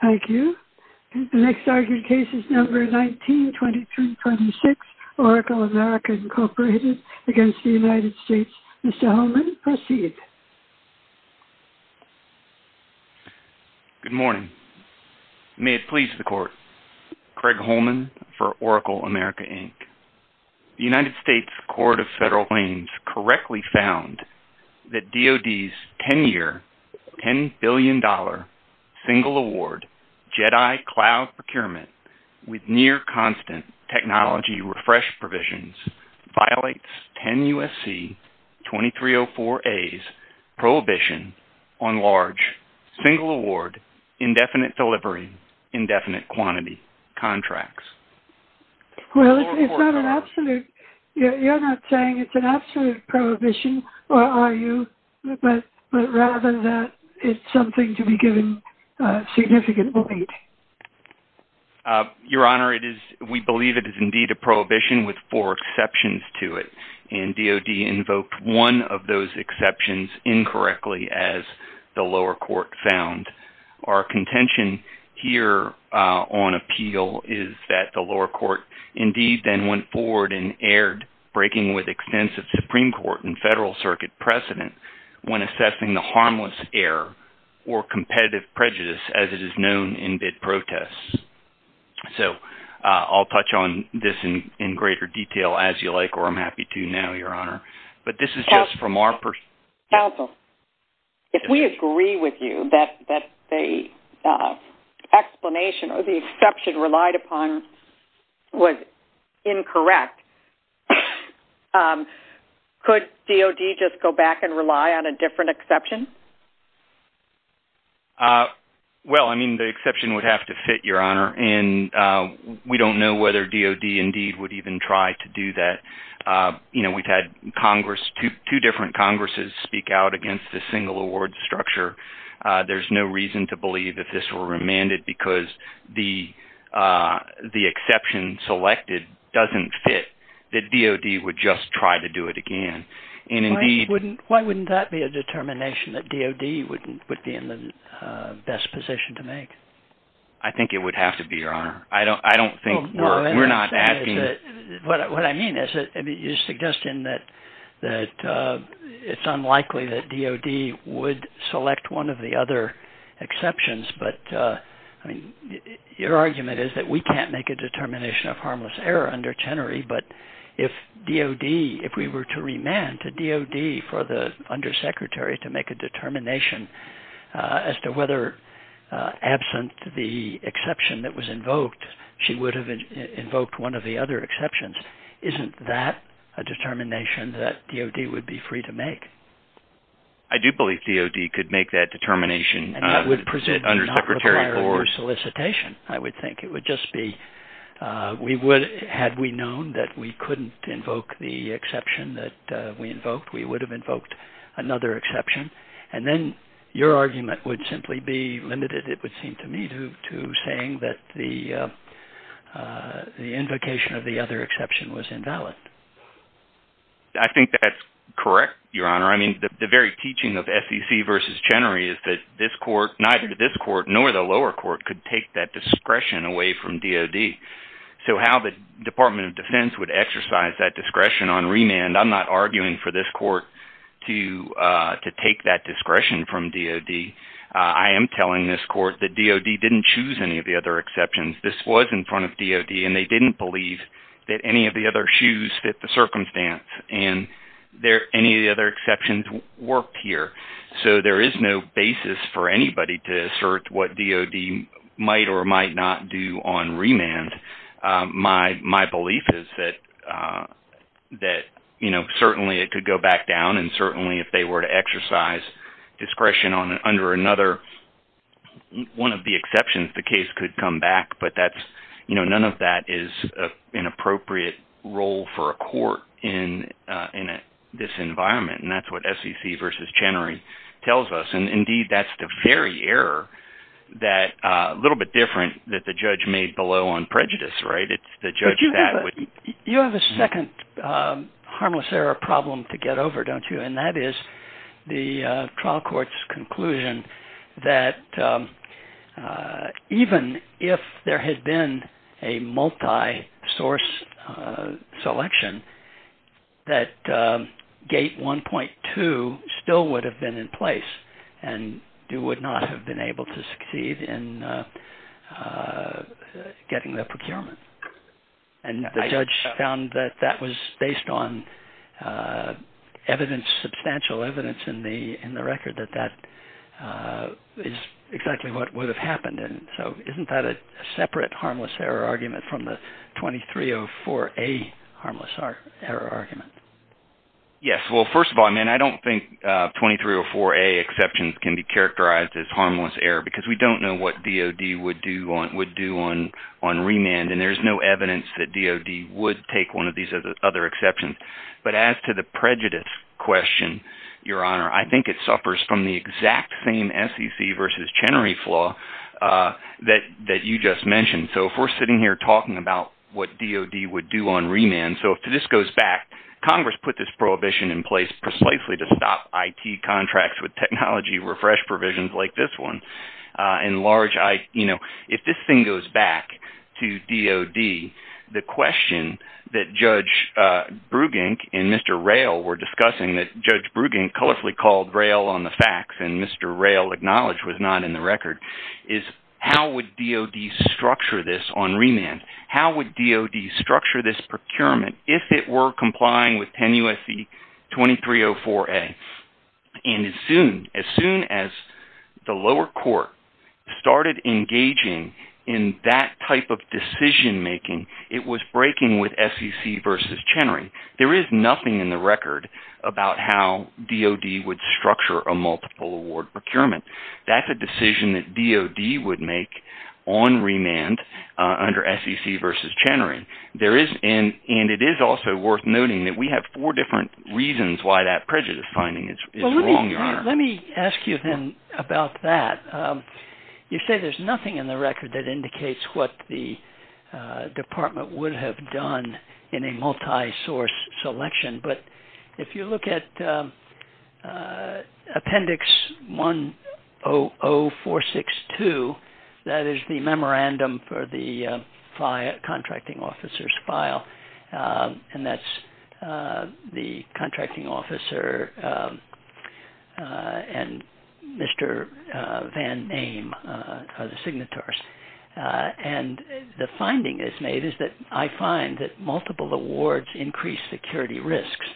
Thank you. The next argued case is number 19-2326, Oracle America, Inc. v. United States. Mr. Holman, proceed. Good morning. May it please the Court. Craig Holman for Oracle America, Inc. The United States Court of Federal Claims correctly found that DOD's 10-year, $10 billion, single-award, JEDI cloud procurement with near-constant technology refresh provisions violates 10 U.S.C. 2304a's prohibition on large, single-award, indefinite delivery, indefinite quantity contracts. Well, it's not an absolute – you're not saying it's an absolute prohibition, or are you? But rather that it's something to be given significant weight. Your Honor, we believe it is indeed a prohibition with four exceptions to it, and DOD invoked one of those exceptions incorrectly, as the lower court found. Our contention here on appeal is that the lower court indeed then went forward and erred, breaking with extensive Supreme Court and Federal Circuit precedent when assessing the harmless error or competitive prejudice as it is known in bid protests. So I'll touch on this in greater detail as you like, or I'm happy to now, Your Honor. Counsel, if we agree with you that the explanation or the exception relied upon was incorrect, could DOD just go back and rely on a different exception? Well, I mean, the exception would have to fit, Your Honor, and we don't know whether DOD indeed would even try to do that. You know, we've had two different Congresses speak out against the single award structure. There's no reason to believe that this were remanded because the exception selected doesn't fit, that DOD would just try to do it again. Why wouldn't that be a determination that DOD would be in the best position to make? What I mean is that you're suggesting that it's unlikely that DOD would select one of the other exceptions, but your argument is that we can't make a determination of harmless error under Tenery, but if we were to remand to DOD for the undersecretary to make a determination as to whether, absent the exception that was invoked, she would have invoked one of the other exceptions, isn't that a determination that DOD would be free to make? I do believe DOD could make that determination undersecretary for solicitation, I would think. It would just be, had we known that we couldn't invoke the exception that we invoked, we would have invoked another exception, and then your argument would simply be limited. It would seem to me to saying that the invocation of the other exception was invalid. I think that's correct, Your Honor. I mean, the very teaching of SEC versus Chenery is that this court, neither this court nor the lower court could take that discretion away from DOD. So how the Department of Defense would exercise that discretion on remand, I'm not arguing for this court to take that discretion from DOD. I am telling this court that DOD didn't choose any of the other exceptions. This was in front of DOD, and they didn't believe that any of the other shoes fit the circumstance, and any of the other exceptions worked here. So there is no basis for anybody to assert what DOD might or might not do on remand. My belief is that certainly it could go back down, and certainly if they were to exercise discretion under another one of the exceptions, the case could come back, but none of that is an appropriate role for a court in this environment, and that's what SEC versus Chenery tells us. Indeed, that's the very error that's a little bit different that the judge made below on prejudice. You have a second harmless error problem to get over, don't you, and that is the trial court's conclusion that even if there had been a multi-source selection, that gate 1.2 still would have been in place, and you would not have been able to succeed in getting the procurement, and the judge found that that was based on evidence, substantial evidence in the record that that is exactly what would have happened, and so isn't that a separate harmless error argument from the 2304A harmless error argument? Yes. Well, first of all, I don't think 2304A exceptions can be characterized as harmless error because we don't know what DOD would do on remand, and there's no evidence that DOD would take one of these other exceptions, but as to the prejudice question, Your Honor, I think it suffers from the exact same SEC versus Chenery flaw that you just mentioned, so if we're sitting here talking about what DOD would do on remand, so if this goes back, Congress put this prohibition in place precisely to stop IT contracts with technology refresh provisions like this one. If this thing goes back to DOD, the question that Judge Brugink and Mr. Rayl were discussing, that Judge Brugink colorfully called Rayl on the facts and Mr. Rayl acknowledged was not in the record, is how would DOD structure this on remand? How would DOD structure this procurement if it were complying with 10 U.S.C. 2304A? And as soon as the lower court started engaging in that type of decision-making, it was breaking with SEC versus Chenery. There is nothing in the record about how DOD would structure a multiple award procurement. That's a decision that DOD would make on remand under SEC versus Chenery. And it is also worth noting that we have four different reasons why that prejudice finding is wrong, Your Honor. Let me ask you then about that. You say there's nothing in the record that indicates what the department would have done in a multisource selection, but if you look at Appendix 100462, that is the memorandum for the contracting officer's file, and that's the contracting officer and Mr. Van Ame are the signatories. And the finding that's made is that I find that multiple awards increase security risks.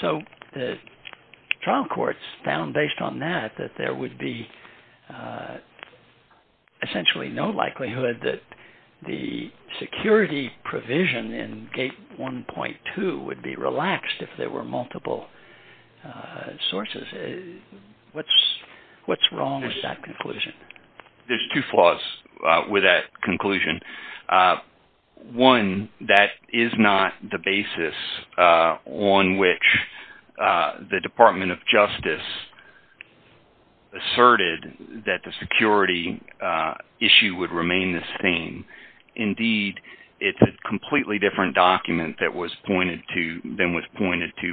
So the trial courts found, based on that, that there would be essentially no likelihood that the security provision in Gate 1.2 would be relaxed if there were multiple sources. What's wrong with that conclusion? There's two flaws with that conclusion. One, that is not the basis on which the Department of Justice asserted that the security issue would remain the same. Indeed, it's a completely different document than was pointed to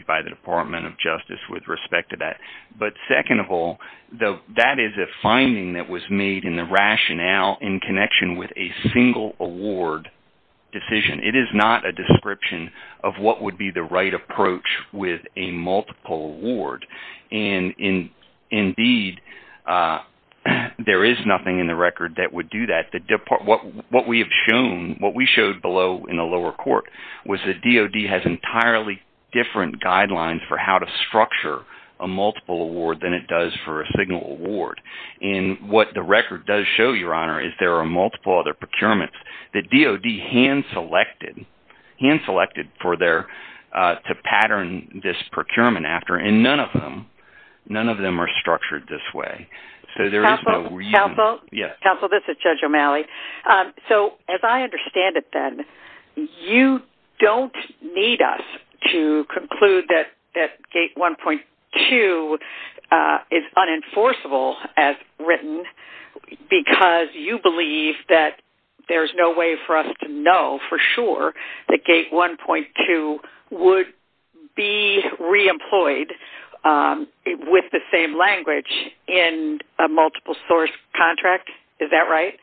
by the Department of Justice with respect to that. But second of all, that is a finding that was made in the rationale in connection with a single award decision. It is not a description of what would be the right approach with a multiple award. And indeed, there is nothing in the record that would do that. What we have shown, what we showed below in the lower court, was that DOD has entirely different guidelines for how to structure a multiple award than it does for a single award. And what the record does show, Your Honor, is there are multiple other procurements that DOD hand-selected to pattern this procurement after, and none of them are structured this way. Counsel, this is Judge O'Malley. So as I understand it then, you don't need us to conclude that Gate 1.2 is unenforceable as written because you believe that there's no way for us to know for sure that Gate 1.2 would be re-employed with the same language in a multiple source contract. Is that right?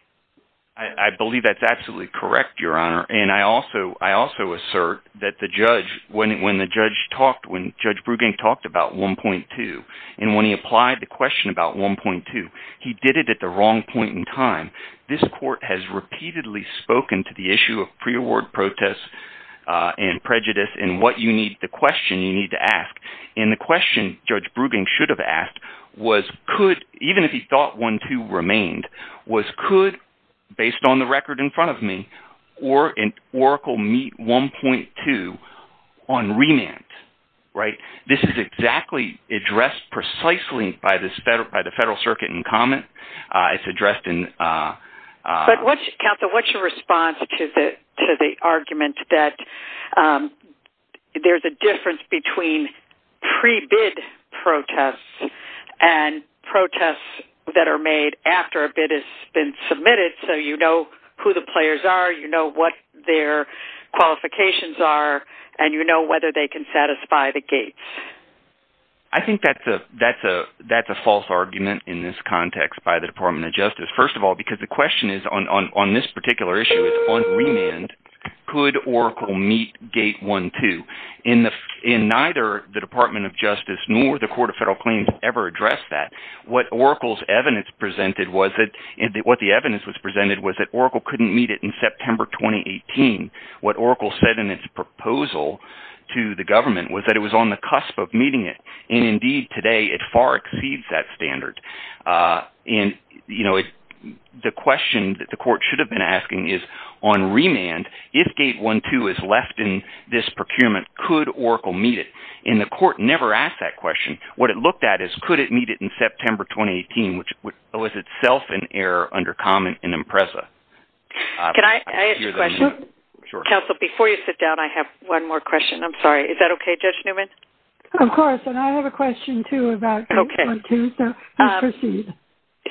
I believe that's absolutely correct, Your Honor. And I also assert that when Judge Brugank talked about 1.2 and when he applied the question about 1.2, he did it at the wrong point in time. This court has repeatedly spoken to the issue of pre-award protest and prejudice and what you need, the question you need to ask. And the question Judge Brugank should have asked was could, even if he thought 1.2 remained, was could, based on the record in front of me, Oracle meet 1.2 on remand? This is exactly addressed precisely by the Federal Circuit in comment. Counsel, what's your response to the argument that there's a difference between pre-bid protests and protests that are made after a bid has been submitted so you know who the players are, you know what their qualifications are, and you know whether they can satisfy the gates? I think that's a false argument in this context by the Department of Justice, first of all, because the question is on this particular issue, on remand, could Oracle meet gate 1.2? And neither the Department of Justice nor the Court of Federal Claims ever addressed that. What Oracle's evidence presented was that – what the evidence was presented was that Oracle couldn't meet it in September 2018. What Oracle said in its proposal to the government was that it was on the cusp of meeting it, and indeed today it far exceeds that standard. And, you know, the question that the Court should have been asking is on remand, if gate 1.2 is left in this procurement, could Oracle meet it? And the Court never asked that question. What it looked at is could it meet it in September 2018, which was itself an error under Common and Impreza. Can I ask a question? Sure. Counsel, before you sit down, I have one more question. I'm sorry. Is that okay, Judge Newman? Of course, and I have a question, too, about gate 1.2. Okay. Please proceed.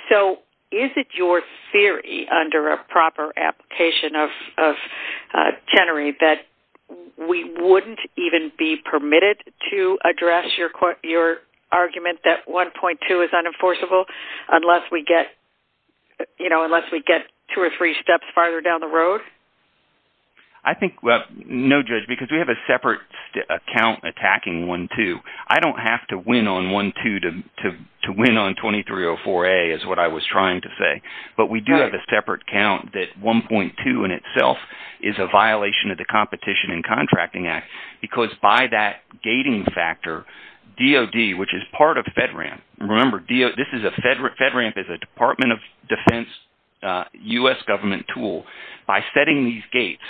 So is it your theory under a proper application of Chenery that we wouldn't even be permitted to address your argument that 1.2 is unenforceable unless we get two or three steps farther down the road? I think – no, Judge, because we have a separate account attacking 1.2. I don't have to win on 1.2 to win on 2304A is what I was trying to say. But we do have a separate count that 1.2 in itself is a violation of the Competition and Contracting Act because by that gating factor, DOD, which is part of FedRAMP – remember, this is a – FedRAMP is a Department of Defense U.S. government tool. By setting these gates,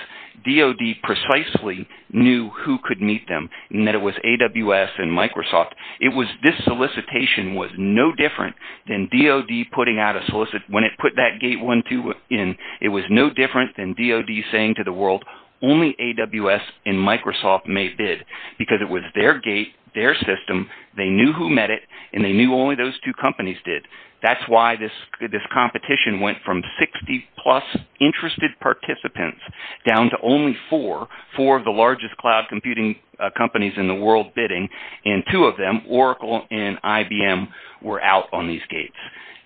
DOD precisely knew who could meet them, and that it was AWS and Microsoft. It was – this solicitation was no different than DOD putting out a solicit – when it put that gate 1.2 in, it was no different than DOD saying to the world, only AWS and Microsoft may bid because it was their gate, their system, they knew who met it, and they knew only those two companies did. That's why this competition went from 60-plus interested participants down to only four, four of the largest cloud computing companies in the world bidding, and two of them, Oracle and IBM, were out on these gates.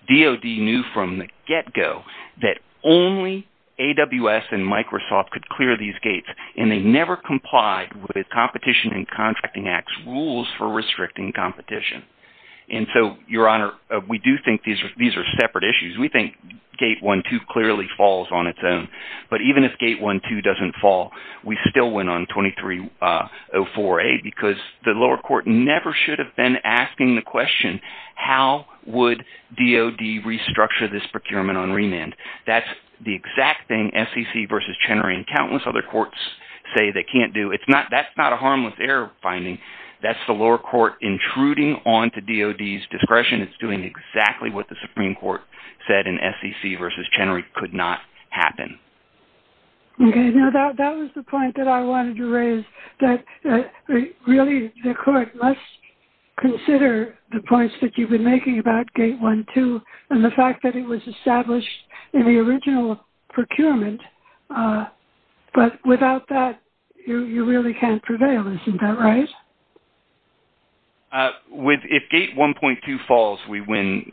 DOD knew from the get-go that only AWS and Microsoft could clear these gates, and they never complied with Competition and Contracting Act's rules for restricting competition. And so, Your Honor, we do think these are separate issues. We think gate 1.2 clearly falls on its own. But even if gate 1.2 doesn't fall, we still went on 2304A because the lower court never should have been asking the question, how would DOD restructure this procurement on remand? That's the exact thing SEC v. Chenery and countless other courts say they can't do. That's not a harmless error finding. That's the lower court intruding onto DOD's discretion. It's doing exactly what the Supreme Court said in SEC v. Chenery could not happen. Okay. Now, that was the point that I wanted to raise, that really the court must consider the points that you've been making about gate 1.2 and the fact that it was established in the original procurement. But without that, you really can't prevail. Isn't that right? If gate 1.2 falls, we win,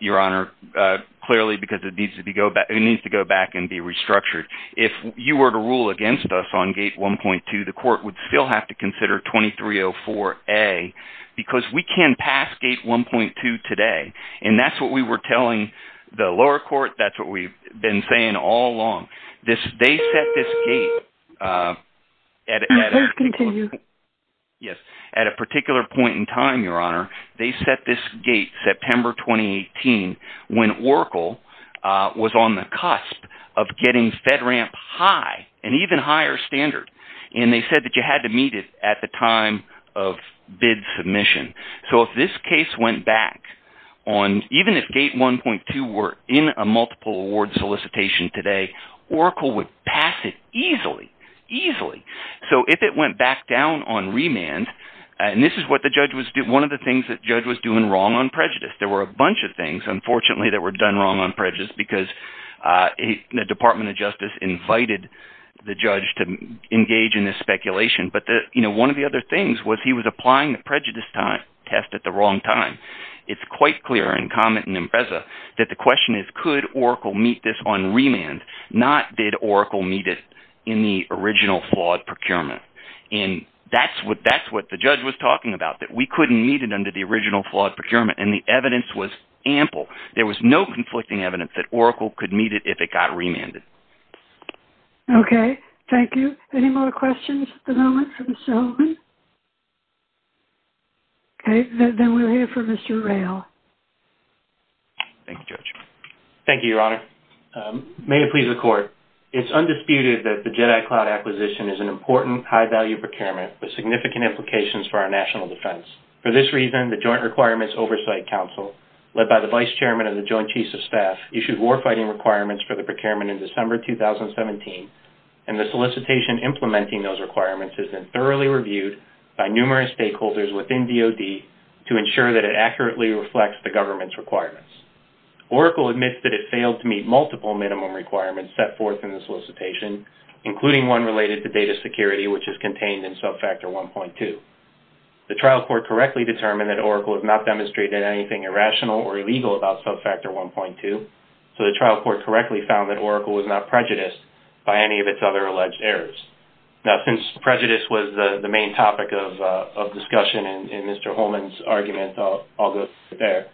Your Honor, clearly because it needs to go back and be restructured. If you were to rule against us on gate 1.2, the court would still have to consider 2304A because we can pass gate 1.2 today. And that's what we were telling the lower court. That's what we've been saying all along. They set this gate at a particular point in time, Your Honor. They set this gate September 2018 when Oracle was on the cusp of getting FedRAMP high, an even higher standard. And they said that you had to meet it at the time of bid submission. So if this case went back on – even if gate 1.2 were in a multiple award solicitation today, Oracle would pass it easily, easily. So if it went back down on remand, and this is what the judge was – one of the things that the judge was doing wrong on prejudice. There were a bunch of things, unfortunately, that were done wrong on prejudice because the Department of Justice invited the judge to engage in this speculation. But one of the other things was he was applying the prejudice test at the wrong time. It's quite clear in Comet and Empresa that the question is could Oracle meet this on remand, not did Oracle meet it in the original flawed procurement. And that's what the judge was talking about, that we couldn't meet it under the original flawed procurement. And the evidence was ample. There was no conflicting evidence that Oracle could meet it if it got remanded. Okay, thank you. Any more questions at the moment from this gentleman? Okay, then we'll hear from Mr. Rayl. Thank you, Judge. Thank you, Your Honor. May it please the Court. It's undisputed that the JEDI cloud acquisition is an important, high-value procurement with significant implications for our national defense. For this reason, the Joint Requirements Oversight Council, led by the Vice Chairman of the Joint Chiefs of Staff, issued warfighting requirements for the procurement in December 2017. And the solicitation implementing those requirements has been thoroughly reviewed by numerous stakeholders within DOD to ensure that it accurately reflects the government's requirements. Oracle admits that it failed to meet multiple minimum requirements set forth in the solicitation, including one related to data security, which is contained in Subfactor 1.2. The trial court correctly determined that Oracle has not demonstrated anything irrational or illegal about Subfactor 1.2, so the trial court correctly found that Oracle was not prejudiced by any of its other alleged errors. Now, since prejudice was the main topic of discussion in Mr. Holman's argument, I'll go through it there.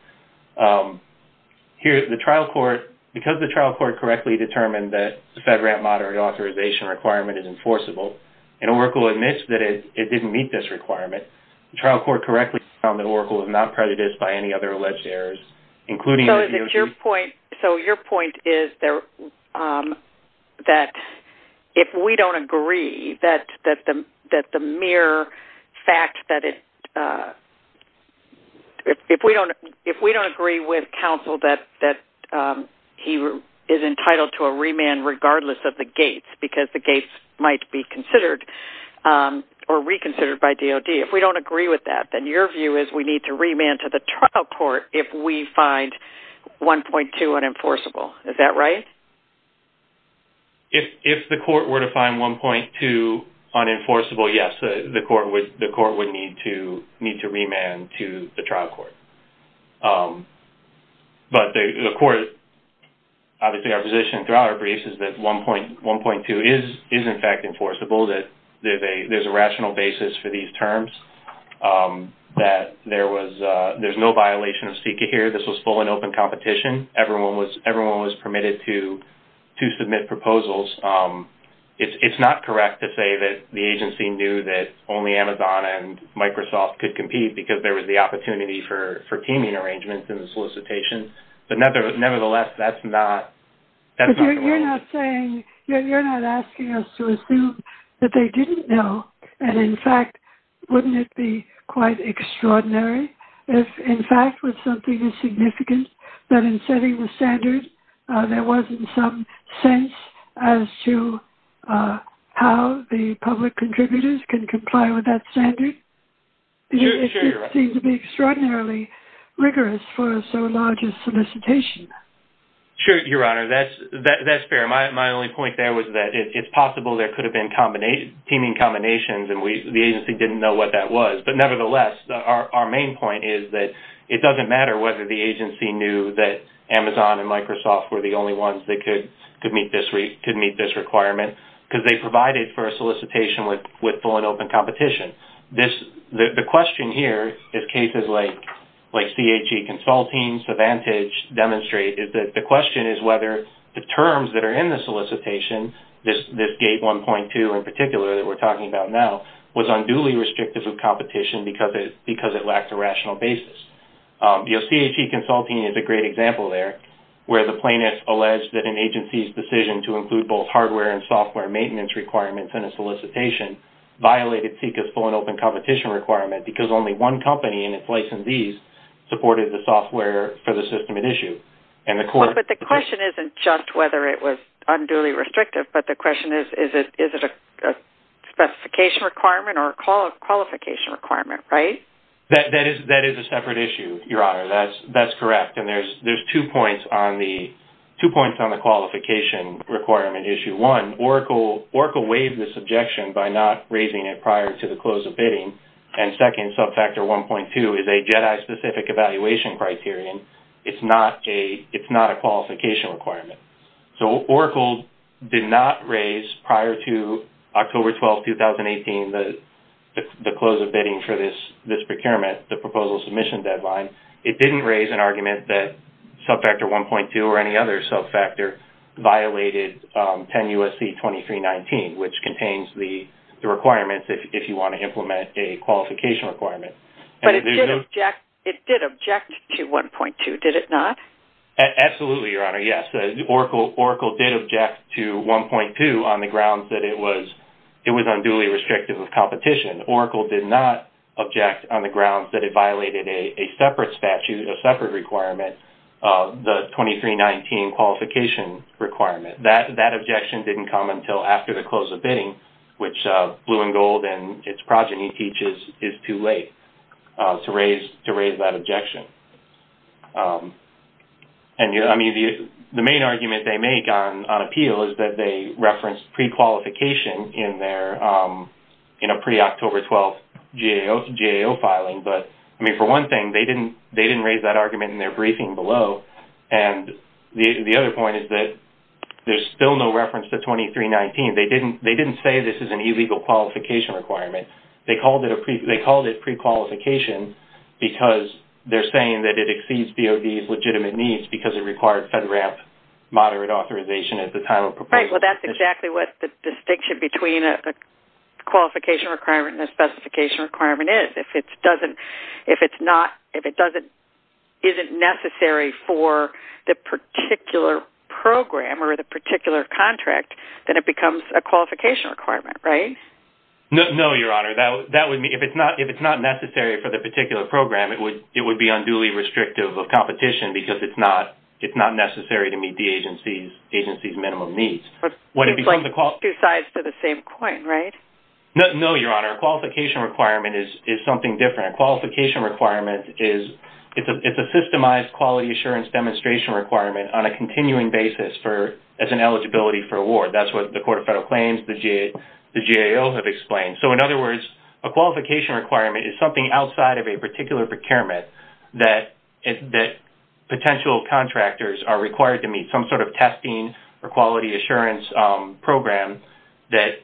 Here, the trial court, because the trial court correctly determined that the FedRAMP moderate authorization requirement is enforceable, and Oracle admits that it didn't meet this requirement, the trial court correctly found that Oracle was not prejudiced by any other alleged errors, including- So, is it your point-so, your point is that if we don't agree that the mere fact that it-if we don't agree with counsel that he is entitled to a remand regardless of the gates, because the gates might be considered-or reconsidered by DOD-if we don't agree with that, then your view is we need to remand to the trial court if we find 1.2 unenforceable. Is that right? If the court were to find 1.2 unenforceable, yes, the court would need to remand to the trial court. But the court-obviously, our position throughout our briefs is that 1.2 is, in fact, enforceable, that there's a rational basis for these terms, that there was-there's no violation of SECA here. This was full and open competition. Everyone was permitted to submit proposals. It's not correct to say that the agency knew that only Amazon and Microsoft could compete because there was the opportunity for teaming arrangements in the solicitation. But nevertheless, that's not- But you're not saying-you're not asking us to assume that they didn't know, and in fact, wouldn't it be quite extraordinary if, in fact, with something as significant that in setting the standard there wasn't some sense as to how the public contributors can comply with that standard? It just seems to be extraordinarily rigorous for a so large a solicitation. Sure, Your Honor. That's fair. My only point there was that it's possible there could have been teaming combinations and the agency didn't know what that was. But nevertheless, our main point is that it doesn't matter whether the agency knew that Amazon and Microsoft were the only ones that could meet this requirement because they provided for a solicitation with full and open competition. The question here, as cases like CHE Consulting, Savantage demonstrate, is that the question is whether the terms that are in the solicitation, this gate 1.2 in particular that we're talking about now, was unduly restrictive of competition because it lacked a rational basis. You know, CHE Consulting is a great example there where the plaintiff alleged that an agency's decision to include both hardware and software maintenance requirements in a solicitation violated CEQA's full and open competition requirement because only one company and its licensees supported the software for the system at issue. But the question isn't just whether it was unduly restrictive, but the question is, is it a specification requirement or a qualification requirement, right? That is a separate issue, Your Honor. That's correct. And there's two points on the qualification requirement issue. One, Oracle waived this objection by not raising it prior to the close of bidding. And second, subfactor 1.2 is a JEDI-specific evaluation criterion. It's not a qualification requirement. So, Oracle did not raise, prior to October 12, 2018, the close of bidding for this procurement, the proposal submission deadline. It didn't raise an argument that subfactor 1.2 or any other subfactor violated 10 U.S.C. 2319, which contains the requirements if you want to implement a qualification requirement. But it did object to 1.2, did it not? Absolutely, Your Honor. Yes, Oracle did object to 1.2 on the grounds that it was unduly restrictive of competition. Oracle did not object on the grounds that it violated a separate statute, a separate requirement, the 2319 qualification requirement. That objection didn't come until after the close of bidding, which Blue and Gold and its progeny teaches is too late to raise that objection. The main argument they make on appeal is that they referenced prequalification in a pre-October 12th GAO filing. But for one thing, they didn't raise that argument in their briefing below. And the other point is that there's still no reference to 2319. They didn't say this is an illegal qualification requirement. They called it prequalification because they're saying that it exceeds DOD's legitimate needs because it required FedRAMP moderate authorization at the time of proposal. Right. Well, that's exactly what the distinction between a qualification requirement and a specification requirement is. If it isn't necessary for the particular program or the particular contract, then it becomes a qualification requirement, right? No, Your Honor. If it's not necessary for the particular program, it would be unduly restrictive of competition because it's not necessary to meet the agency's minimum needs. It's like two sides to the same coin, right? No, Your Honor. A qualification requirement is something different. A qualification requirement is a systemized quality assurance demonstration requirement on a continuing basis as an eligibility for award. That's what the Court of Federal Claims, the GAO have explained. So, in other words, a qualification requirement is something outside of a particular procurement that potential contractors are required to meet, some sort of testing or quality assurance program that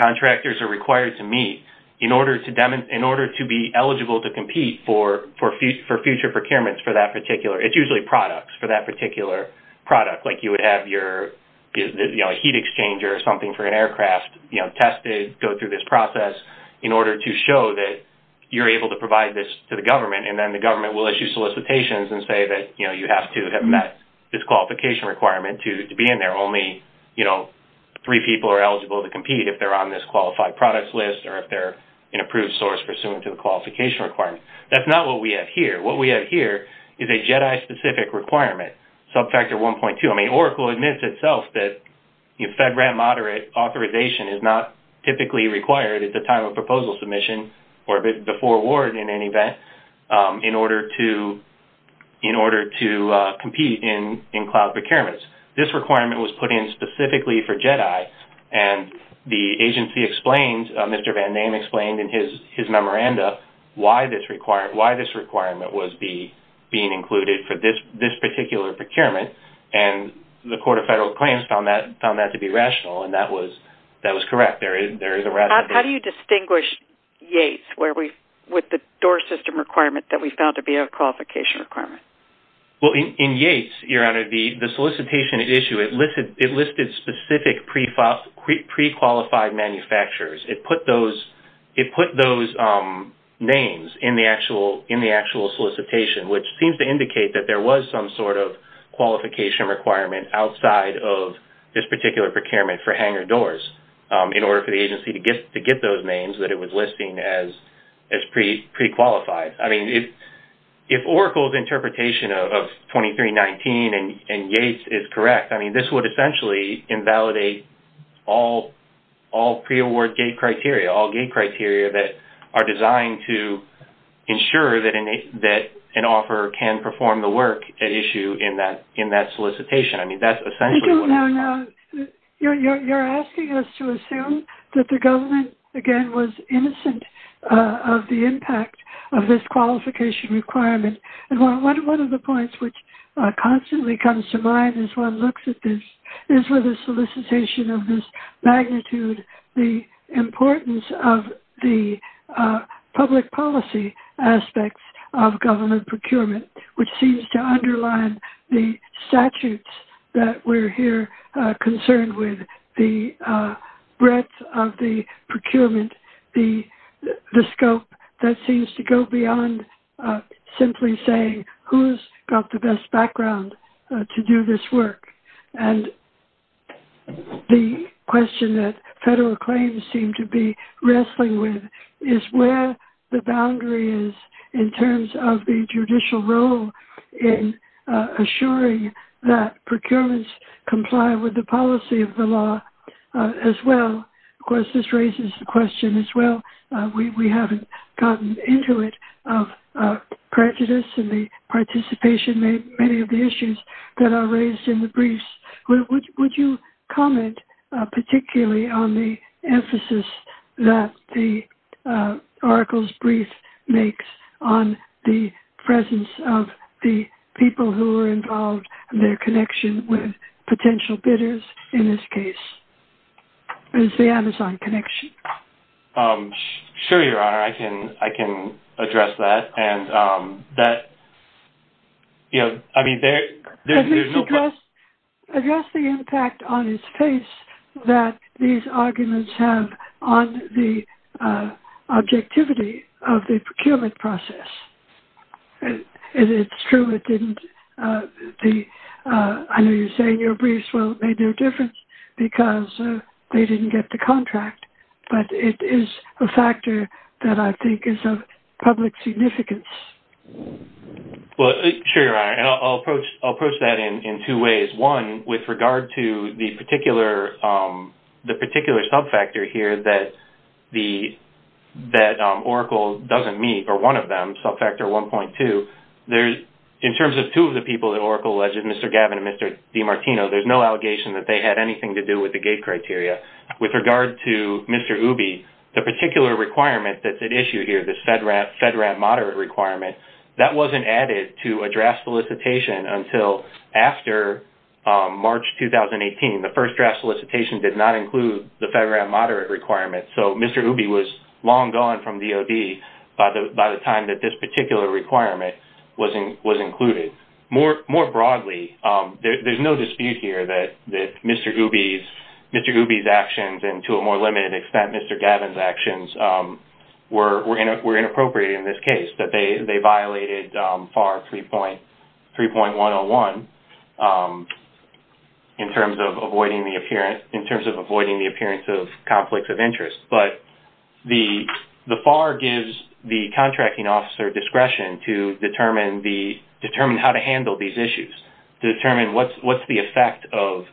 contractors are required to meet in order to be eligible to compete for future procurements for that particular. It's usually products for that particular product. Like you would have your heat exchanger or something for an aircraft tested, go through this process in order to show that you're able to provide this to the government and then the government will issue solicitations and say that you have to have met this qualification requirement to be in there. Only three people are eligible to compete if they're on this qualified products list or if they're an approved source pursuant to the qualification requirement. That's not what we have here. What we have here is a JEDI-specific requirement, subfactor 1.2. I mean, Oracle admits itself that FedRAMP-moderate authorization is not typically required at the time of proposal submission or before award in any event in order to compete in cloud procurements. This requirement was put in specifically for JEDI and the agency explained, Mr. Van Dam explained in his memoranda why this requirement was being included for this particular procurement and the Court of Federal Claims found that to be rational and that was correct. There is a rationale. How do you distinguish Yates with the DOORS system requirement that we found to be a qualification requirement? Well, in Yates, Your Honor, the solicitation issue, it listed specific pre-qualified manufacturers. It put those names in the actual solicitation, which seems to indicate that there was some sort of qualification requirement outside of this particular procurement for Hanger DOORS in order for the agency to get those names that it was listing as pre-qualified. Yes. I mean, if Oracle's interpretation of 2319 and Yates is correct, I mean, this would essentially invalidate all pre-award gate criteria, all gate criteria that are designed to ensure that an offeror can perform the work at issue in that solicitation. You're asking us to assume that the government, again, was innocent of the impact of this qualification requirement. One of the points which constantly comes to mind as one looks at this is with the solicitation of this magnitude, the importance of the public policy aspects of government procurement, which seems to underline the statutes that we're here concerned with, the breadth of the procurement, the scope that seems to go beyond simply saying who's got the best background to do this work. And the question that federal claims seem to be wrestling with is where the boundary is in terms of the judicial role in assuring that procurements comply with the policy of the law as well. Of course, this raises the question as well. We haven't gotten into it of prejudice and the participation in many of the issues that are raised in the briefs. Would you comment particularly on the emphasis that the Oracle's brief makes on the presence of the people who are involved and their connection with potential bidders in this case? It's the Amazon connection. Sure, Your Honor. I can address that. I mean, there's no question. Address the impact on its face that these arguments have on the objectivity of the procurement process. It's true it didn't. I know you're saying your briefs made no difference because they didn't get the contract. But it is a factor that I think is of public significance. Well, sure, Your Honor. And I'll approach that in two ways. One, with regard to the particular sub-factor here that Oracle doesn't meet, or one of them, sub-factor 1.2, in terms of two of the people that Oracle alleged, Mr. Gavin and Mr. DiMartino, there's no allegation that they had anything to do with the gate criteria. With regard to Mr. Ubi, the particular requirement that's at issue here, this FedRAT moderate requirement, that wasn't added to a draft solicitation until after March 2018. The first draft solicitation did not include the FedRAT moderate requirement. So Mr. Ubi was long gone from DOD by the time that this particular requirement was included. More broadly, there's no dispute here that Mr. Ubi's actions and, to a more limited extent, Mr. Gavin's actions were inappropriate in this case. That they violated FAR 3.101 in terms of avoiding the appearance of conflicts of interest. But the FAR gives the contracting officer discretion to determine how to handle these issues, to determine what's the effect of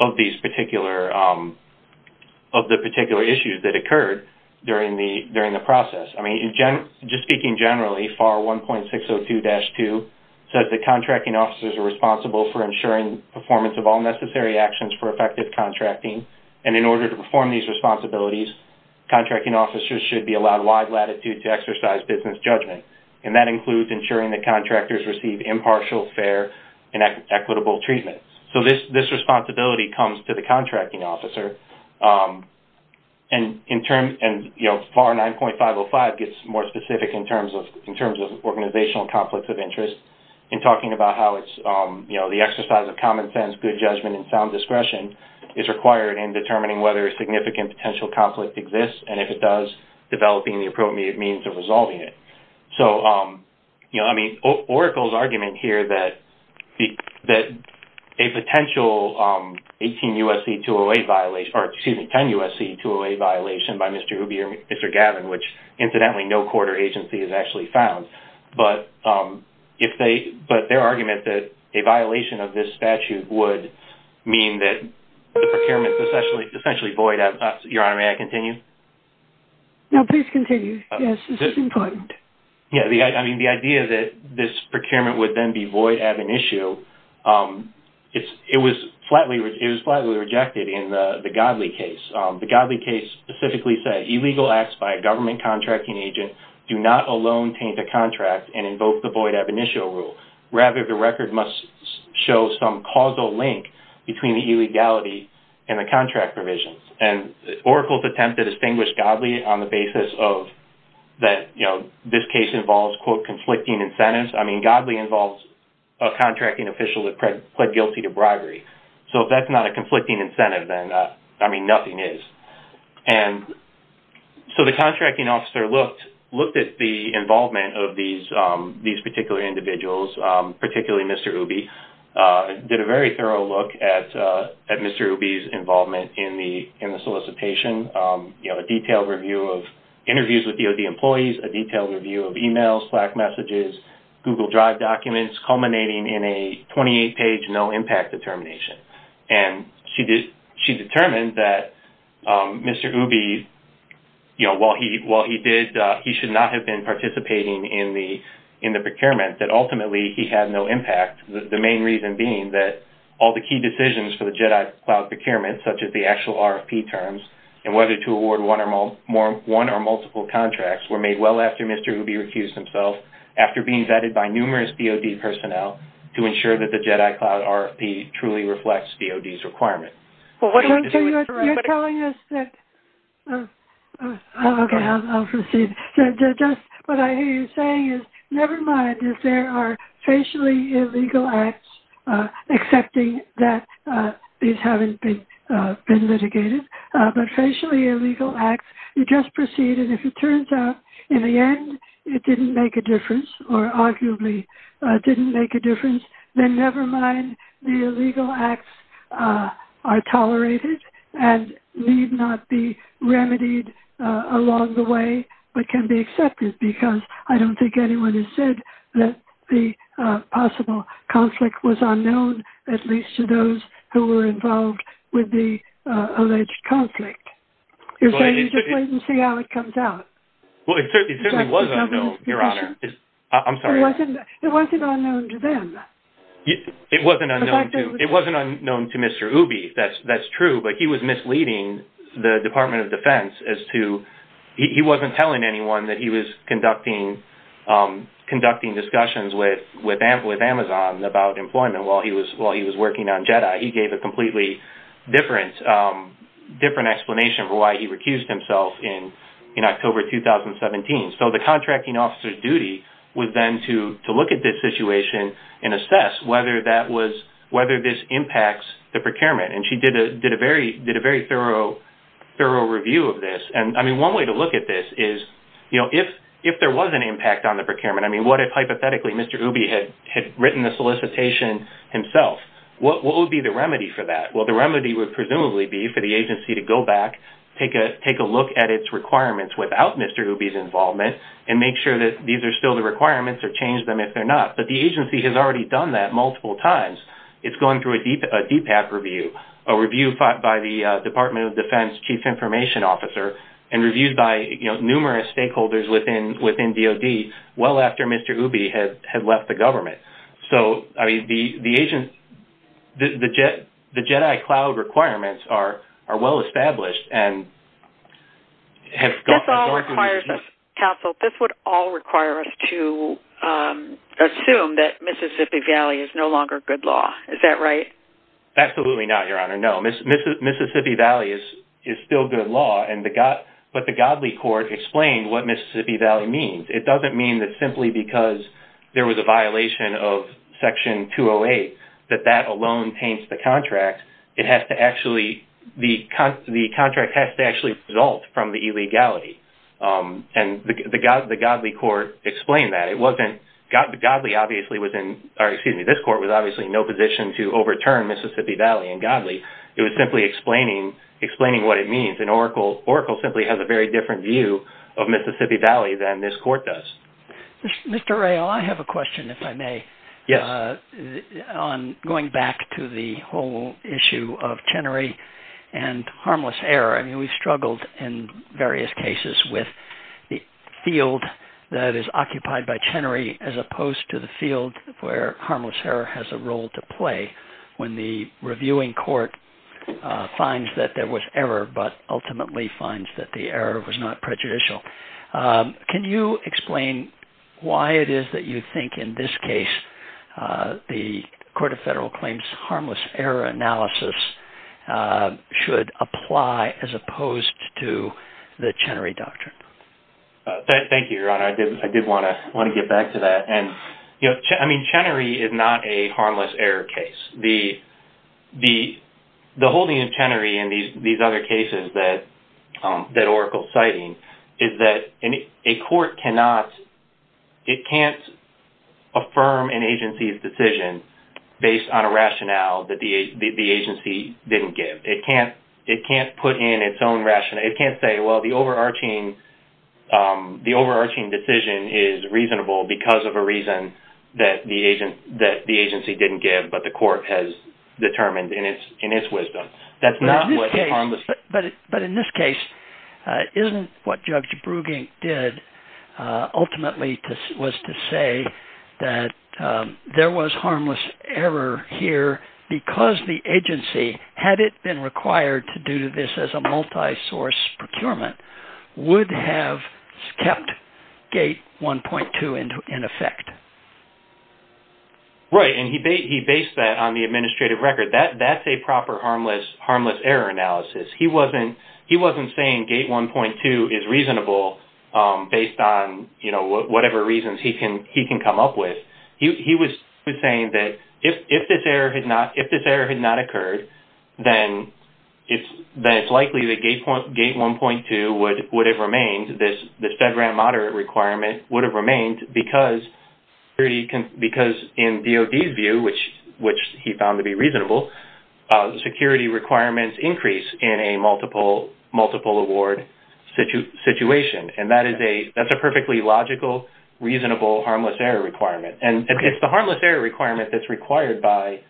the particular issues that occurred during the process. I mean, just speaking generally, FAR 1.602-2 says that contracting officers are responsible for ensuring performance of all necessary actions for effective contracting. And in order to perform these responsibilities, contracting officers should be allowed wide latitude to exercise business judgment. And that includes ensuring that contractors receive impartial, fair, and equitable treatment. So this responsibility comes to the contracting officer. And FAR 9.505 gets more specific in terms of organizational conflicts of interest in talking about how the exercise of common sense, good judgment, and sound discretion is required in determining whether a significant potential conflict exists, and if it does, developing the appropriate means of resolving it. So, you know, I mean, Oracle's argument here that a potential 18 U.S.C. 208 violation, or excuse me, 10 U.S.C. 208 violation by Mr. Ubi or Mr. Gavin, which incidentally no court or agency has actually found, but their argument that a violation of this statute would mean that the procurement is essentially void. Your Honor, may I continue? No, please continue. Yes, this is important. Yeah, I mean, the idea that this procurement would then be void ab initio, it was flatly rejected in the Godley case. The Godley case specifically said, illegal acts by a government contracting agent do not alone taint a contract and invoke the void ab initio rule. Rather, the record must show some causal link between the illegality and the contract provisions. And Oracle's attempt to distinguish Godley on the basis of that, you know, this case involves, quote, conflicting incentives. I mean, Godley involves a contracting official that pled guilty to bribery. So if that's not a conflicting incentive, then, I mean, nothing is. And so the contracting officer looked at the involvement of these particular individuals, particularly Mr. Ooby, did a very thorough look at Mr. Ooby's involvement in the solicitation. You know, a detailed review of interviews with DOD employees, a detailed review of e-mails, Slack messages, Google Drive documents, culminating in a 28-page no-impact determination. And she determined that Mr. Ooby, you know, while he did, he should not have been participating in the procurement, that ultimately he had no impact. The main reason being that all the key decisions for the Jedi Cloud procurement, such as the actual RFP terms and whether to award one or multiple contracts, were made well after Mr. Ooby recused himself after being vetted by numerous DOD personnel to ensure that the Jedi Cloud RFP truly reflects DOD's requirement. You're telling us that... Okay, I'll proceed. Just what I hear you saying is, never mind if there are facially illegal acts, accepting that these haven't been litigated. But facially illegal acts, you just proceeded. If it turns out in the end it didn't make a difference or arguably didn't make a difference, then never mind the illegal acts are tolerated and need not be remedied along the way, but can be accepted because I don't think anyone has said that the possible conflict was unknown, at least to those who were involved with the alleged conflict. You're saying you just wait and see how it comes out. Well, it certainly was unknown, Your Honor. I'm sorry. It wasn't unknown to them. It wasn't unknown to Mr. Ooby, that's true, but he was misleading the Department of Defense as to... He wasn't telling anyone that he was conducting discussions with Amazon about employment while he was working on Jedi. He gave a completely different explanation for why he recused himself in October 2017. So the contracting officer's duty was then to look at this situation and assess whether this impacts the procurement. And she did a very thorough review of this. And one way to look at this is if there was an impact on the procurement, I mean what if hypothetically Mr. Ooby had written the solicitation himself, what would be the remedy for that? Well, the remedy would presumably be for the agency to go back, take a look at its requirements without Mr. Ooby's involvement and make sure that these are still the requirements or change them if they're not. But the agency has already done that multiple times. It's going through a DPAP review, a review by the Department of Defense Chief Information Officer and reviewed by numerous stakeholders within DOD well after Mr. Ooby had left the government. So the Jedi Cloud requirements are well established and have gone through the review. Counsel, this would all require us to assume that Mississippi Valley is no longer good law. Is that right? Absolutely not, Your Honor. No, Mississippi Valley is still good law, but the Godly Court explained what Mississippi Valley means. It doesn't mean that simply because there was a violation of Section 208 that that alone paints the contract. The contract has to actually result from the illegality, and the Godly Court explained that. This court was obviously in no position to overturn Mississippi Valley and Godly. It was simply explaining what it means, and Oracle simply has a very different view of Mississippi Valley than this court does. Mr. Ray, I have a question, if I may, on going back to the whole issue of Chenery and harmless error. I mean, we've struggled in various cases with the field that is occupied by Chenery as opposed to the field where harmless error has a role to play when the reviewing court finds that there was error, but ultimately finds that the error was not prejudicial. Can you explain why it is that you think in this case the Court of Federal Claims harmless error analysis should apply as opposed to the Chenery doctrine? Thank you, Your Honor. I did want to get back to that. I mean, Chenery is not a harmless error case. The holding of Chenery in these other cases that Oracle is citing is that a court cannot affirm an agency's decision based on a rationale that the agency didn't give. It can't put in its own rationale. It can't say, well, the overarching decision is reasonable because of a reason that the agency didn't give, but the court has determined in its wisdom. But in this case, isn't what Judge Brugink did ultimately was to say had it been required to do this as a multisource procurement would have kept gate 1.2 in effect? Right, and he based that on the administrative record. That's a proper harmless error analysis. He wasn't saying gate 1.2 is reasonable based on whatever reasons he can come up with. He was saying that if this error had not occurred, then it's likely that gate 1.2 would have remained, this FedRAMP moderate requirement would have remained because in DOD's view, which he found to be reasonable, the security requirements increase in a multiple award situation. And that's a perfectly logical, reasonable, harmless error requirement. And it's the harmless error requirement that's required by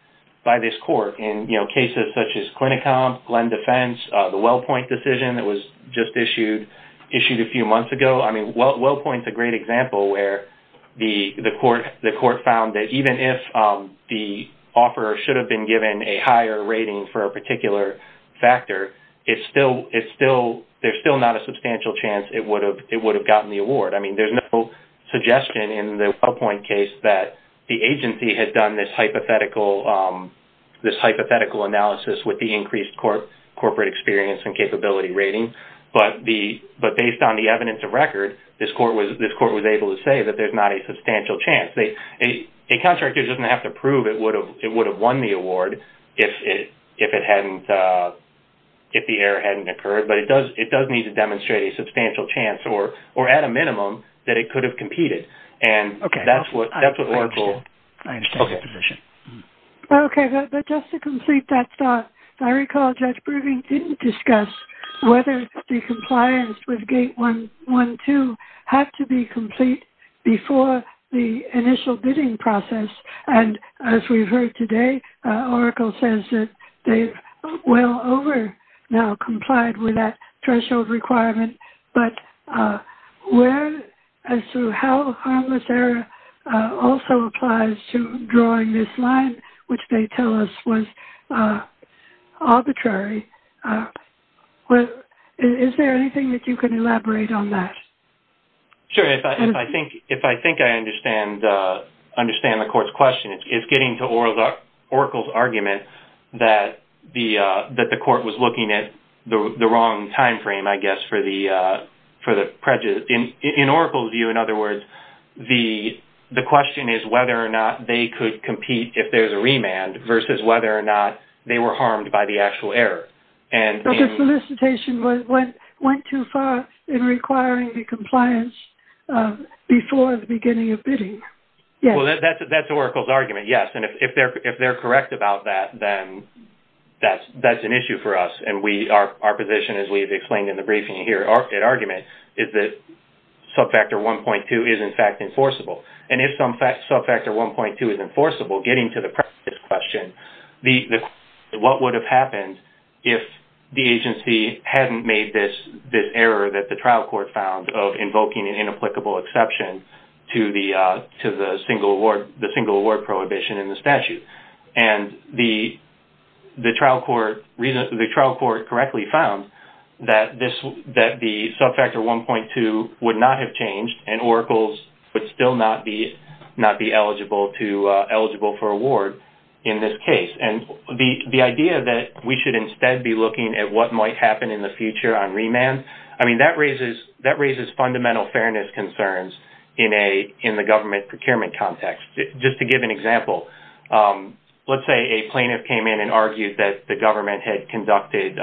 this court in cases such as CliniCom, LEND Defense, the WellPoint decision that was just issued a few months ago. I mean, WellPoint's a great example where the court found that even if the offeror should have been given a higher rating for a particular factor, I mean, there's no suggestion in the WellPoint case that the agency had done this hypothetical analysis with the increased corporate experience and capability rating. But based on the evidence of record, this court was able to say that there's not a substantial chance. A contractor doesn't have to prove it would have won the award if the error hadn't occurred, but it does need to demonstrate a substantial chance or at a minimum that it could have competed. And that's what Oracle... Okay, I understand the position. Okay, but just to complete that thought, I recall Judge Brubing didn't discuss whether the compliance with Gate 112 had to be complete before the initial bidding process. And as we've heard today, Oracle says that they've well over now complied with that threshold requirement. But as to how harmless error also applies to drawing this line, which they tell us was arbitrary, is there anything that you can elaborate on that? Sure. If I think I understand the court's question, it's getting to Oracle's argument that the court was looking at the wrong timeframe, I guess, for the prejudice. In Oracle's view, in other words, the question is whether or not they could compete if there's a remand versus whether or not they were harmed by the actual error. But the solicitation went too far in requiring the compliance before the beginning of bidding. Well, that's Oracle's argument, yes. And if they're correct about that, then that's an issue for us. And our position, as we've explained in the briefing here, our argument is that subfactor 1.2 is, in fact, enforceable. And if subfactor 1.2 is enforceable, getting to the prejudice question, what would have happened if the agency hadn't made this error that the trial court found of invoking an inapplicable exception to the single award prohibition in the statute? And the trial court correctly found that the subfactor 1.2 would not have changed and Oracle would still not be eligible for award in this case. And the idea that we should instead be looking at what might happen in the future on remand, I mean, that raises fundamental fairness concerns in the government procurement context. Just to give an example, let's say a plaintiff came in and argued that the government had conducted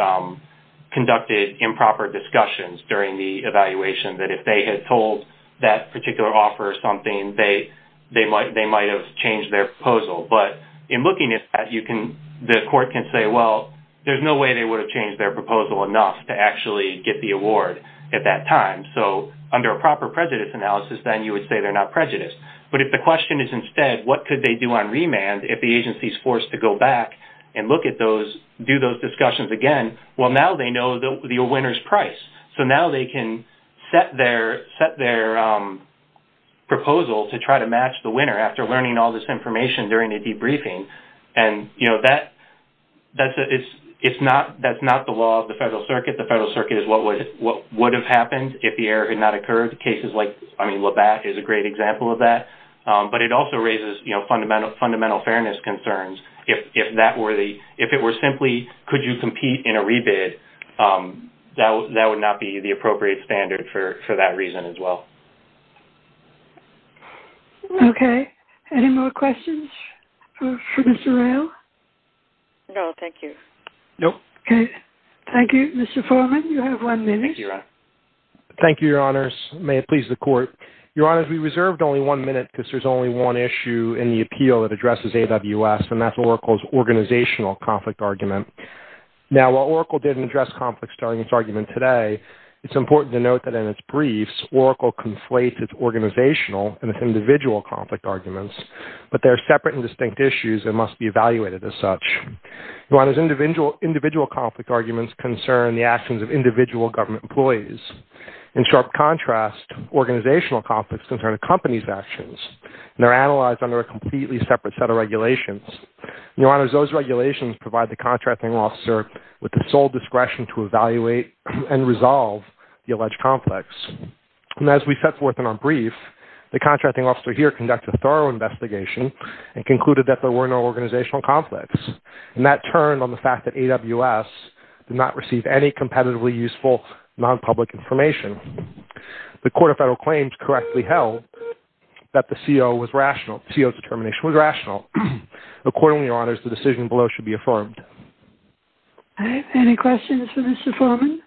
improper discussions during the evaluation, that if they had told that particular offer something, they might have changed their proposal. But in looking at that, the court can say, well, there's no way they would have changed their proposal enough to actually get the award at that time. So under a proper prejudice analysis, then you would say they're not prejudiced. But if the question is instead what could they do on remand if the agency is forced to go back and look at those, do those discussions again, well, now they know the winner's price. So now they can set their proposal to try to match the winner after learning all this information during a debriefing. And, you know, that's not the law of the Federal Circuit. The Federal Circuit is what would have happened if the error had not occurred. Cases like Labatt is a great example of that. But it also raises fundamental fairness concerns. If it were simply could you compete in a rebid, that would not be the appropriate standard for that reason as well. Okay. Any more questions for Mr. Rayl? No, thank you. No. Okay. Thank you. Mr. Foreman, you have one minute. Thank you, Your Honor. Thank you, Your Honors. May it please the Court. Your Honors, we reserved only one minute because there's only one issue in the appeal that addresses AWS, and that's Oracle's organizational conflict argument. Now, while Oracle didn't address conflicts during its argument today, it's important to note that in its briefs, Oracle conflates its organizational and its individual conflict arguments. But they're separate and distinct issues that must be evaluated as such. Your Honors, individual conflict arguments concern the actions of individual government employees. In sharp contrast, organizational conflicts concern a company's actions, and they're analyzed under a completely separate set of regulations. Your Honors, those regulations provide the contracting officer with the sole discretion to evaluate and resolve the alleged conflicts. And as we set forth in our brief, the contracting officer here conducted a thorough investigation and concluded that there were no organizational conflicts. And that turned on the fact that AWS did not receive any competitively useful nonpublic information. The Court of Federal Claims correctly held that the CO's determination was rational. Accordingly, Your Honors, the decision below should be affirmed. Any questions for Mr. Foreman?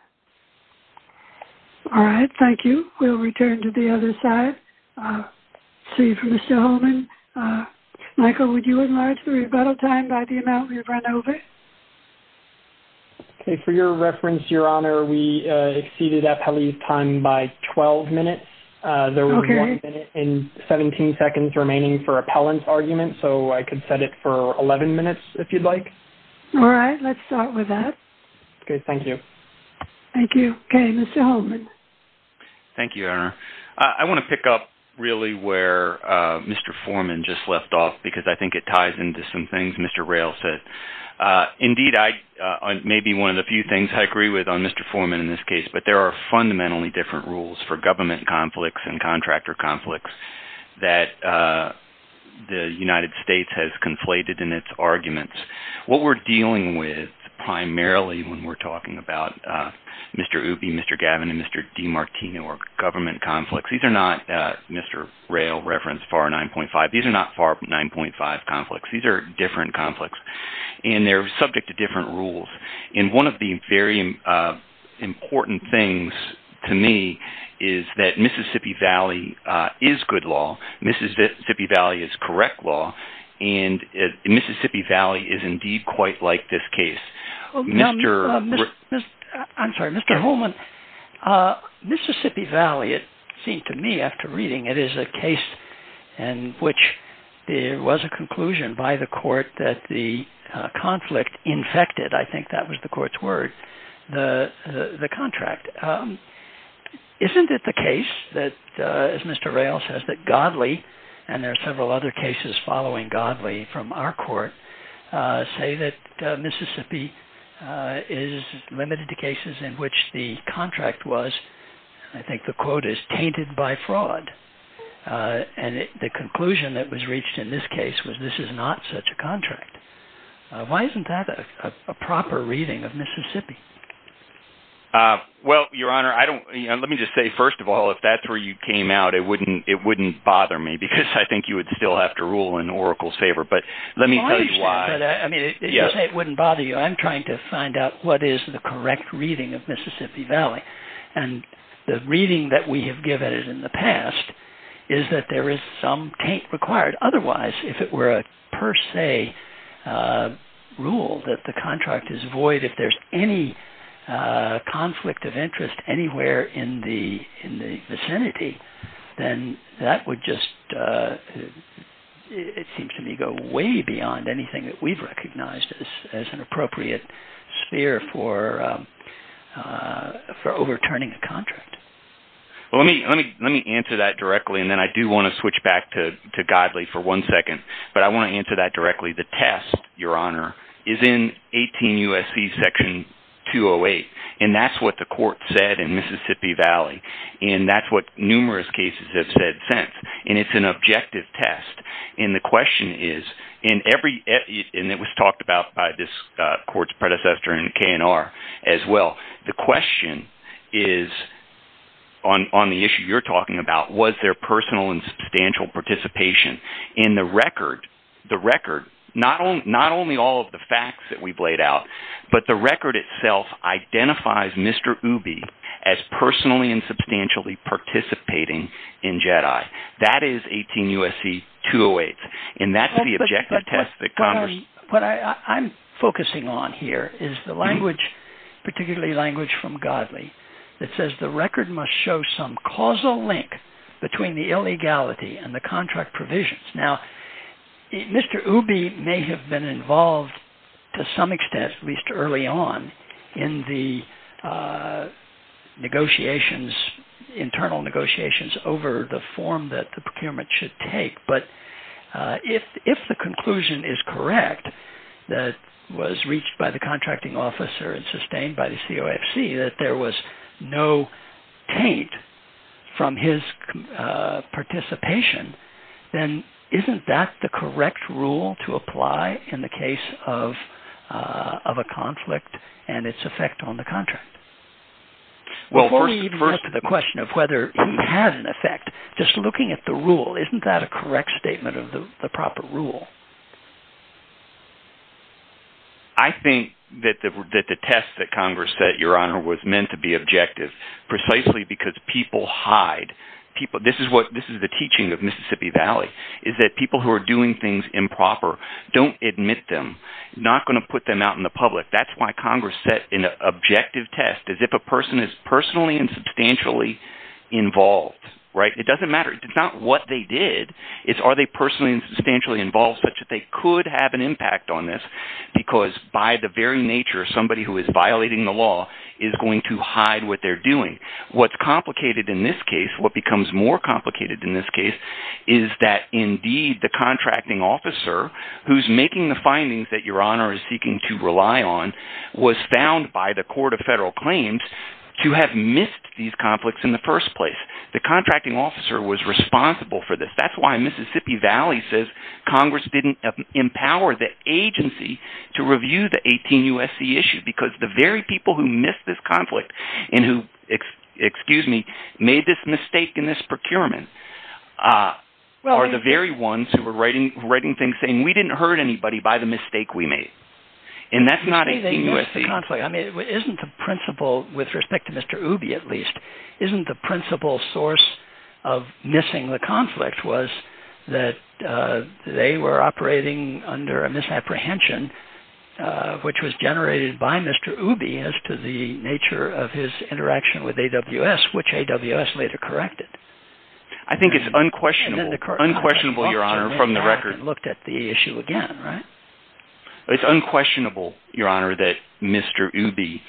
All right, thank you. We'll return to the other side. Let's see for Mr. Holman. Michael, would you enlarge the rebuttal time by the amount we've run over? Okay, for your reference, Your Honor, we exceeded appellee's time by 12 minutes. There was one minute and 17 seconds remaining for appellant's argument, so I could set it for 11 minutes if you'd like. All right, let's start with that. Okay, thank you. Okay, Mr. Holman. Thank you, Your Honor. I want to pick up really where Mr. Foreman just left off because I think it ties into some things Mr. Rayl said. Indeed, maybe one of the few things I agree with on Mr. Foreman in this case, but there are fundamentally different rules for government conflicts and contractor conflicts that the United States has conflated in its arguments. What we're dealing with primarily when we're talking about Mr. Ooby, Mr. Gavin, and Mr. DiMartino are government conflicts. These are not, Mr. Rayl referenced FAR 9.5. These are not FAR 9.5 conflicts. These are different conflicts, and they're subject to different rules. And one of the very important things to me is that Mississippi Valley is good law, Mississippi Valley is correct law, and Mississippi Valley is indeed quite like this case. I'm sorry, Mr. Holman, Mississippi Valley, it seemed to me after reading it, is a case in which there was a conclusion by the court that the conflict infected, I think that was the court's word, the contract. Isn't it the case that, as Mr. Rayl says, that Godley, and there are several other cases following Godley from our court, say that Mississippi is limited to cases in which the contract was, I think the quote is, tainted by fraud. And the conclusion that was reached in this case was this is not such a contract. Why isn't that a proper reading of Mississippi? Well, Your Honor, let me just say, first of all, if that's where you came out, it wouldn't bother me because I think you would still have to rule in Oracle's favor. But let me tell you why. It wouldn't bother you. I'm trying to find out what is the correct reading of Mississippi Valley. And the reading that we have given in the past is that there is some taint required. Otherwise, if it were a per se rule that the contract is void, if there's any conflict of interest anywhere in the vicinity, then that would just, it seems to me, go way beyond anything that we've recognized as an appropriate sphere for overturning a contract. Well, let me answer that directly, and then I do want to switch back to Godley for one second. But I want to answer that directly. The test, Your Honor, is in 18 U.S.C. section 208. And that's what the court said in Mississippi Valley. And that's what numerous cases have said since. And it's an objective test. And the question is, and it was talked about by this court's predecessor in K&R as well, the question is, on the issue you're talking about, was there personal and substantial participation? And the record, not only all of the facts that we've laid out, but the record itself identifies Mr. Ooby as personally and substantially participating in JEDI. That is 18 U.S.C. 208. And that's the objective test that Congress… What I'm focusing on here is the language, particularly language from Godley, that says the record must show some causal link between the illegality and the contract provisions. Now, Mr. Ooby may have been involved to some extent, at least early on, in the negotiations, internal negotiations over the form that the procurement should take. But if the conclusion is correct that was reached by the contracting officer and sustained by the COFC that there was no taint from his participation, then isn't that the correct rule to apply in the case of a conflict and its effect on the contract? Before we even get to the question of whether it had an effect, just looking at the rule, isn't that a correct statement of the proper rule? I think that the test that Congress set, Your Honor, was meant to be objective precisely because people hide. This is the teaching of Mississippi Valley is that people who are doing things improper don't admit them. They're not going to put them out in the public. That's why Congress set an objective test as if a person is personally and substantially involved. It doesn't matter. It's not what they did. It's are they personally and substantially involved such that they could have an impact on this because by the very nature somebody who is violating the law is going to hide what they're doing. What's complicated in this case, what becomes more complicated in this case, is that indeed the contracting officer who's making the findings that Your Honor is seeking to rely on was found by the Court of Federal Claims to have missed these conflicts in the first place. The contracting officer was responsible for this. That's why Mississippi Valley says Congress didn't empower the agency to review the 18 U.S.C. issue because the very people who missed this conflict and who, excuse me, made this mistake in this procurement are the very ones who were writing things saying we didn't hurt anybody by the mistake we made. And that's not 18 U.S.C. I mean isn't the principle, with respect to Mr. Ooby at least, isn't the principle source of missing the conflict was that they were operating under a misapprehension which was generated by Mr. Ooby as to the nature of his interaction with AWS, which AWS later corrected. I think it's unquestionable, Your Honor, from the record. And then the contracting officer looked at the issue again, right? It's unquestionable, Your Honor, that Mr. Ooby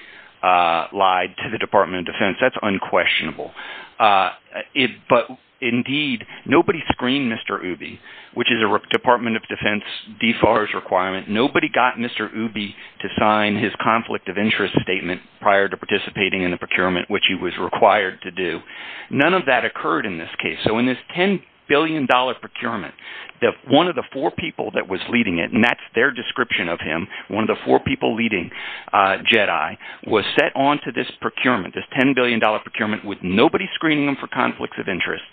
lied to the Department of Defense. That's unquestionable. But indeed nobody screened Mr. Ooby, which is a Department of Defense DFARS requirement. Nobody got Mr. Ooby to sign his conflict of interest statement prior to participating in the procurement, which he was required to do. None of that occurred in this case. So in this $10 billion procurement, one of the four people that was leading it, and that's their description of him, one of the four people leading JEDI, was set onto this procurement, this $10 billion procurement, with nobody screening him for conflicts of interest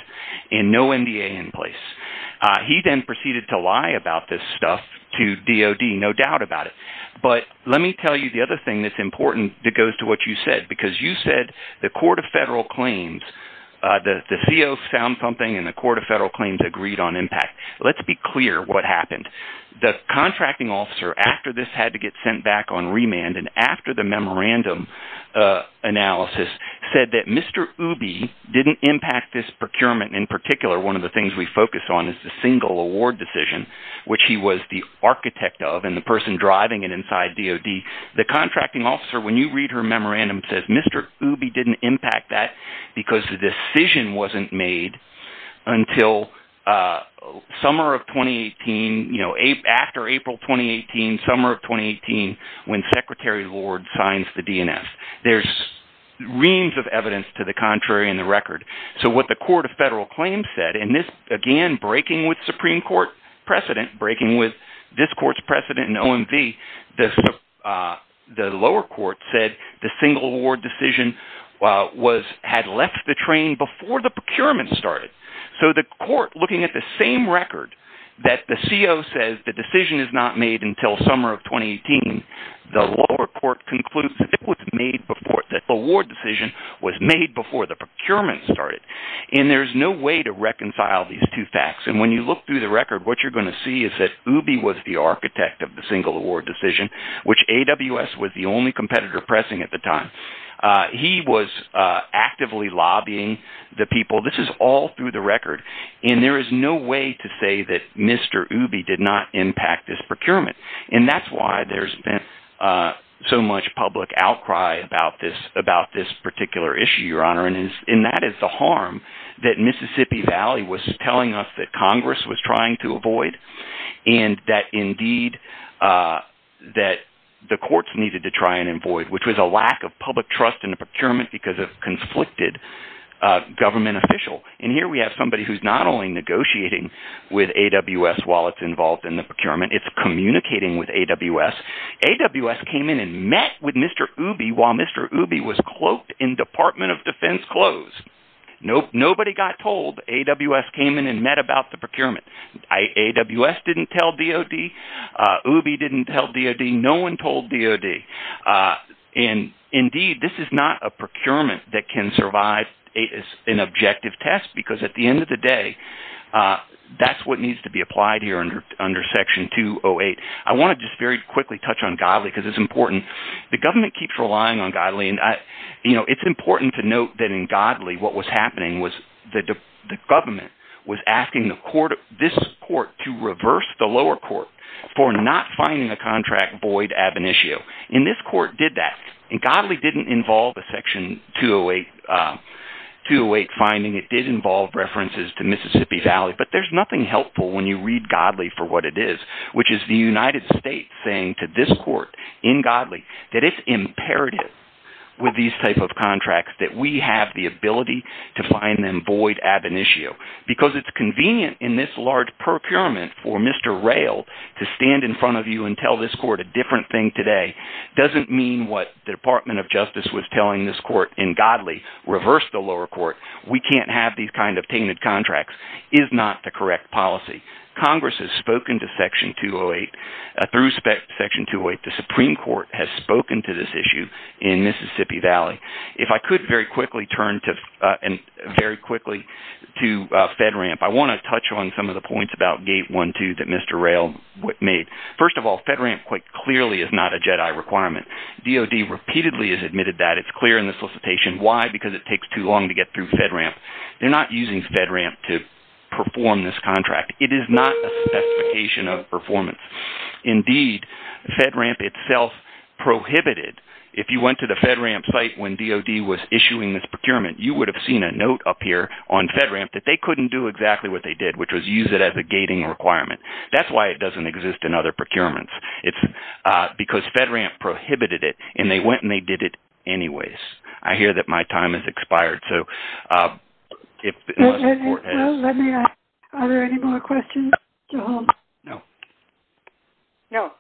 and no MDA in place. He then proceeded to lie about this stuff to DOD, no doubt about it. But let me tell you the other thing that's important that goes to what you said, because you said the Court of Federal Claims, the CO found something, and the Court of Federal Claims agreed on impact. Let's be clear what happened. The contracting officer, after this had to get sent back on remand and after the memorandum analysis, said that Mr. Ooby didn't impact this procurement. In particular, one of the things we focus on is the single award decision, which he was the architect of and the person driving it inside DOD. The contracting officer, when you read her memorandum, says Mr. Ooby didn't impact that because the decision wasn't made until summer of 2018, after April 2018, summer of 2018, when Secretary Lord signs the DNS. There's reams of evidence to the contrary in the record. So what the Court of Federal Claims said, and this, again, breaking with Supreme Court precedent, breaking with this court's precedent in OMV, the lower court said the single award decision had left the train before the procurement started. So the court, looking at the same record, that the CO says the decision is not made until summer of 2018, the lower court concludes that the award decision was made before the procurement started. And there's no way to reconcile these two facts. And when you look through the record, what you're going to see is that Ooby was the architect of the single award decision, which AWS was the only competitor pressing at the time. He was actively lobbying the people. This is all through the record, and there is no way to say that Mr. Ooby did not impact this procurement. And that's why there's been so much public outcry about this particular issue, Your Honor. And that is the harm that Mississippi Valley was telling us that Congress was trying to avoid, and that, indeed, that the courts needed to try and avoid, which was a lack of public trust in the procurement because of a conflicted government official. And here we have somebody who's not only negotiating with AWS while it's involved in the procurement. It's communicating with AWS. AWS came in and met with Mr. Ooby while Mr. Ooby was cloaked in Department of Defense clothes. Nobody got told. AWS came in and met about the procurement. AWS didn't tell DOD. Ooby didn't tell DOD. No one told DOD. And, indeed, this is not a procurement that can survive an objective test because, at the end of the day, that's what needs to be applied here under Section 208. I want to just very quickly touch on Godley because it's important. The government keeps relying on Godley. And, you know, it's important to note that, in Godley, what was happening was the government was asking this court to reverse the lower court for not finding a contract void ab initio. And this court did that. And Godley didn't involve a Section 208 finding. It did involve references to Mississippi Valley. But there's nothing helpful when you read Godley for what it is, which is the United States saying to this court in Godley that it's imperative with these type of contracts that we have the ability to find them void ab initio. Because it's convenient in this large procurement for Mr. Rayl to stand in front of you and tell this court a different thing today doesn't mean what the Department of Justice was telling this court in Godley, reverse the lower court. We can't have these kind of tainted contracts is not the correct policy. Congress has spoken to Section 208. Through Section 208, the Supreme Court has spoken to this issue in Mississippi Valley. If I could very quickly turn to FedRAMP, I want to touch on some of the points about Gate 1-2 that Mr. Rayl made. First of all, FedRAMP quite clearly is not a JEDI requirement. DOD repeatedly has admitted that. It's clear in the solicitation. Why? Because it takes too long to get through FedRAMP. They're not using FedRAMP to perform this contract. It is not a specification of performance. Indeed, FedRAMP itself prohibited – if you went to the FedRAMP site when DOD was issuing this procurement, you would have seen a note up here on FedRAMP that they couldn't do exactly what they did, which was use it as a gating requirement. That's why it doesn't exist in other procurements. It's because FedRAMP prohibited it, and they went and they did it anyways. I hear that my time has expired. Let me ask, are there any more questions at all? No. No.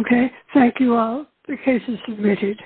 Okay. Thank you all. The case is submitted.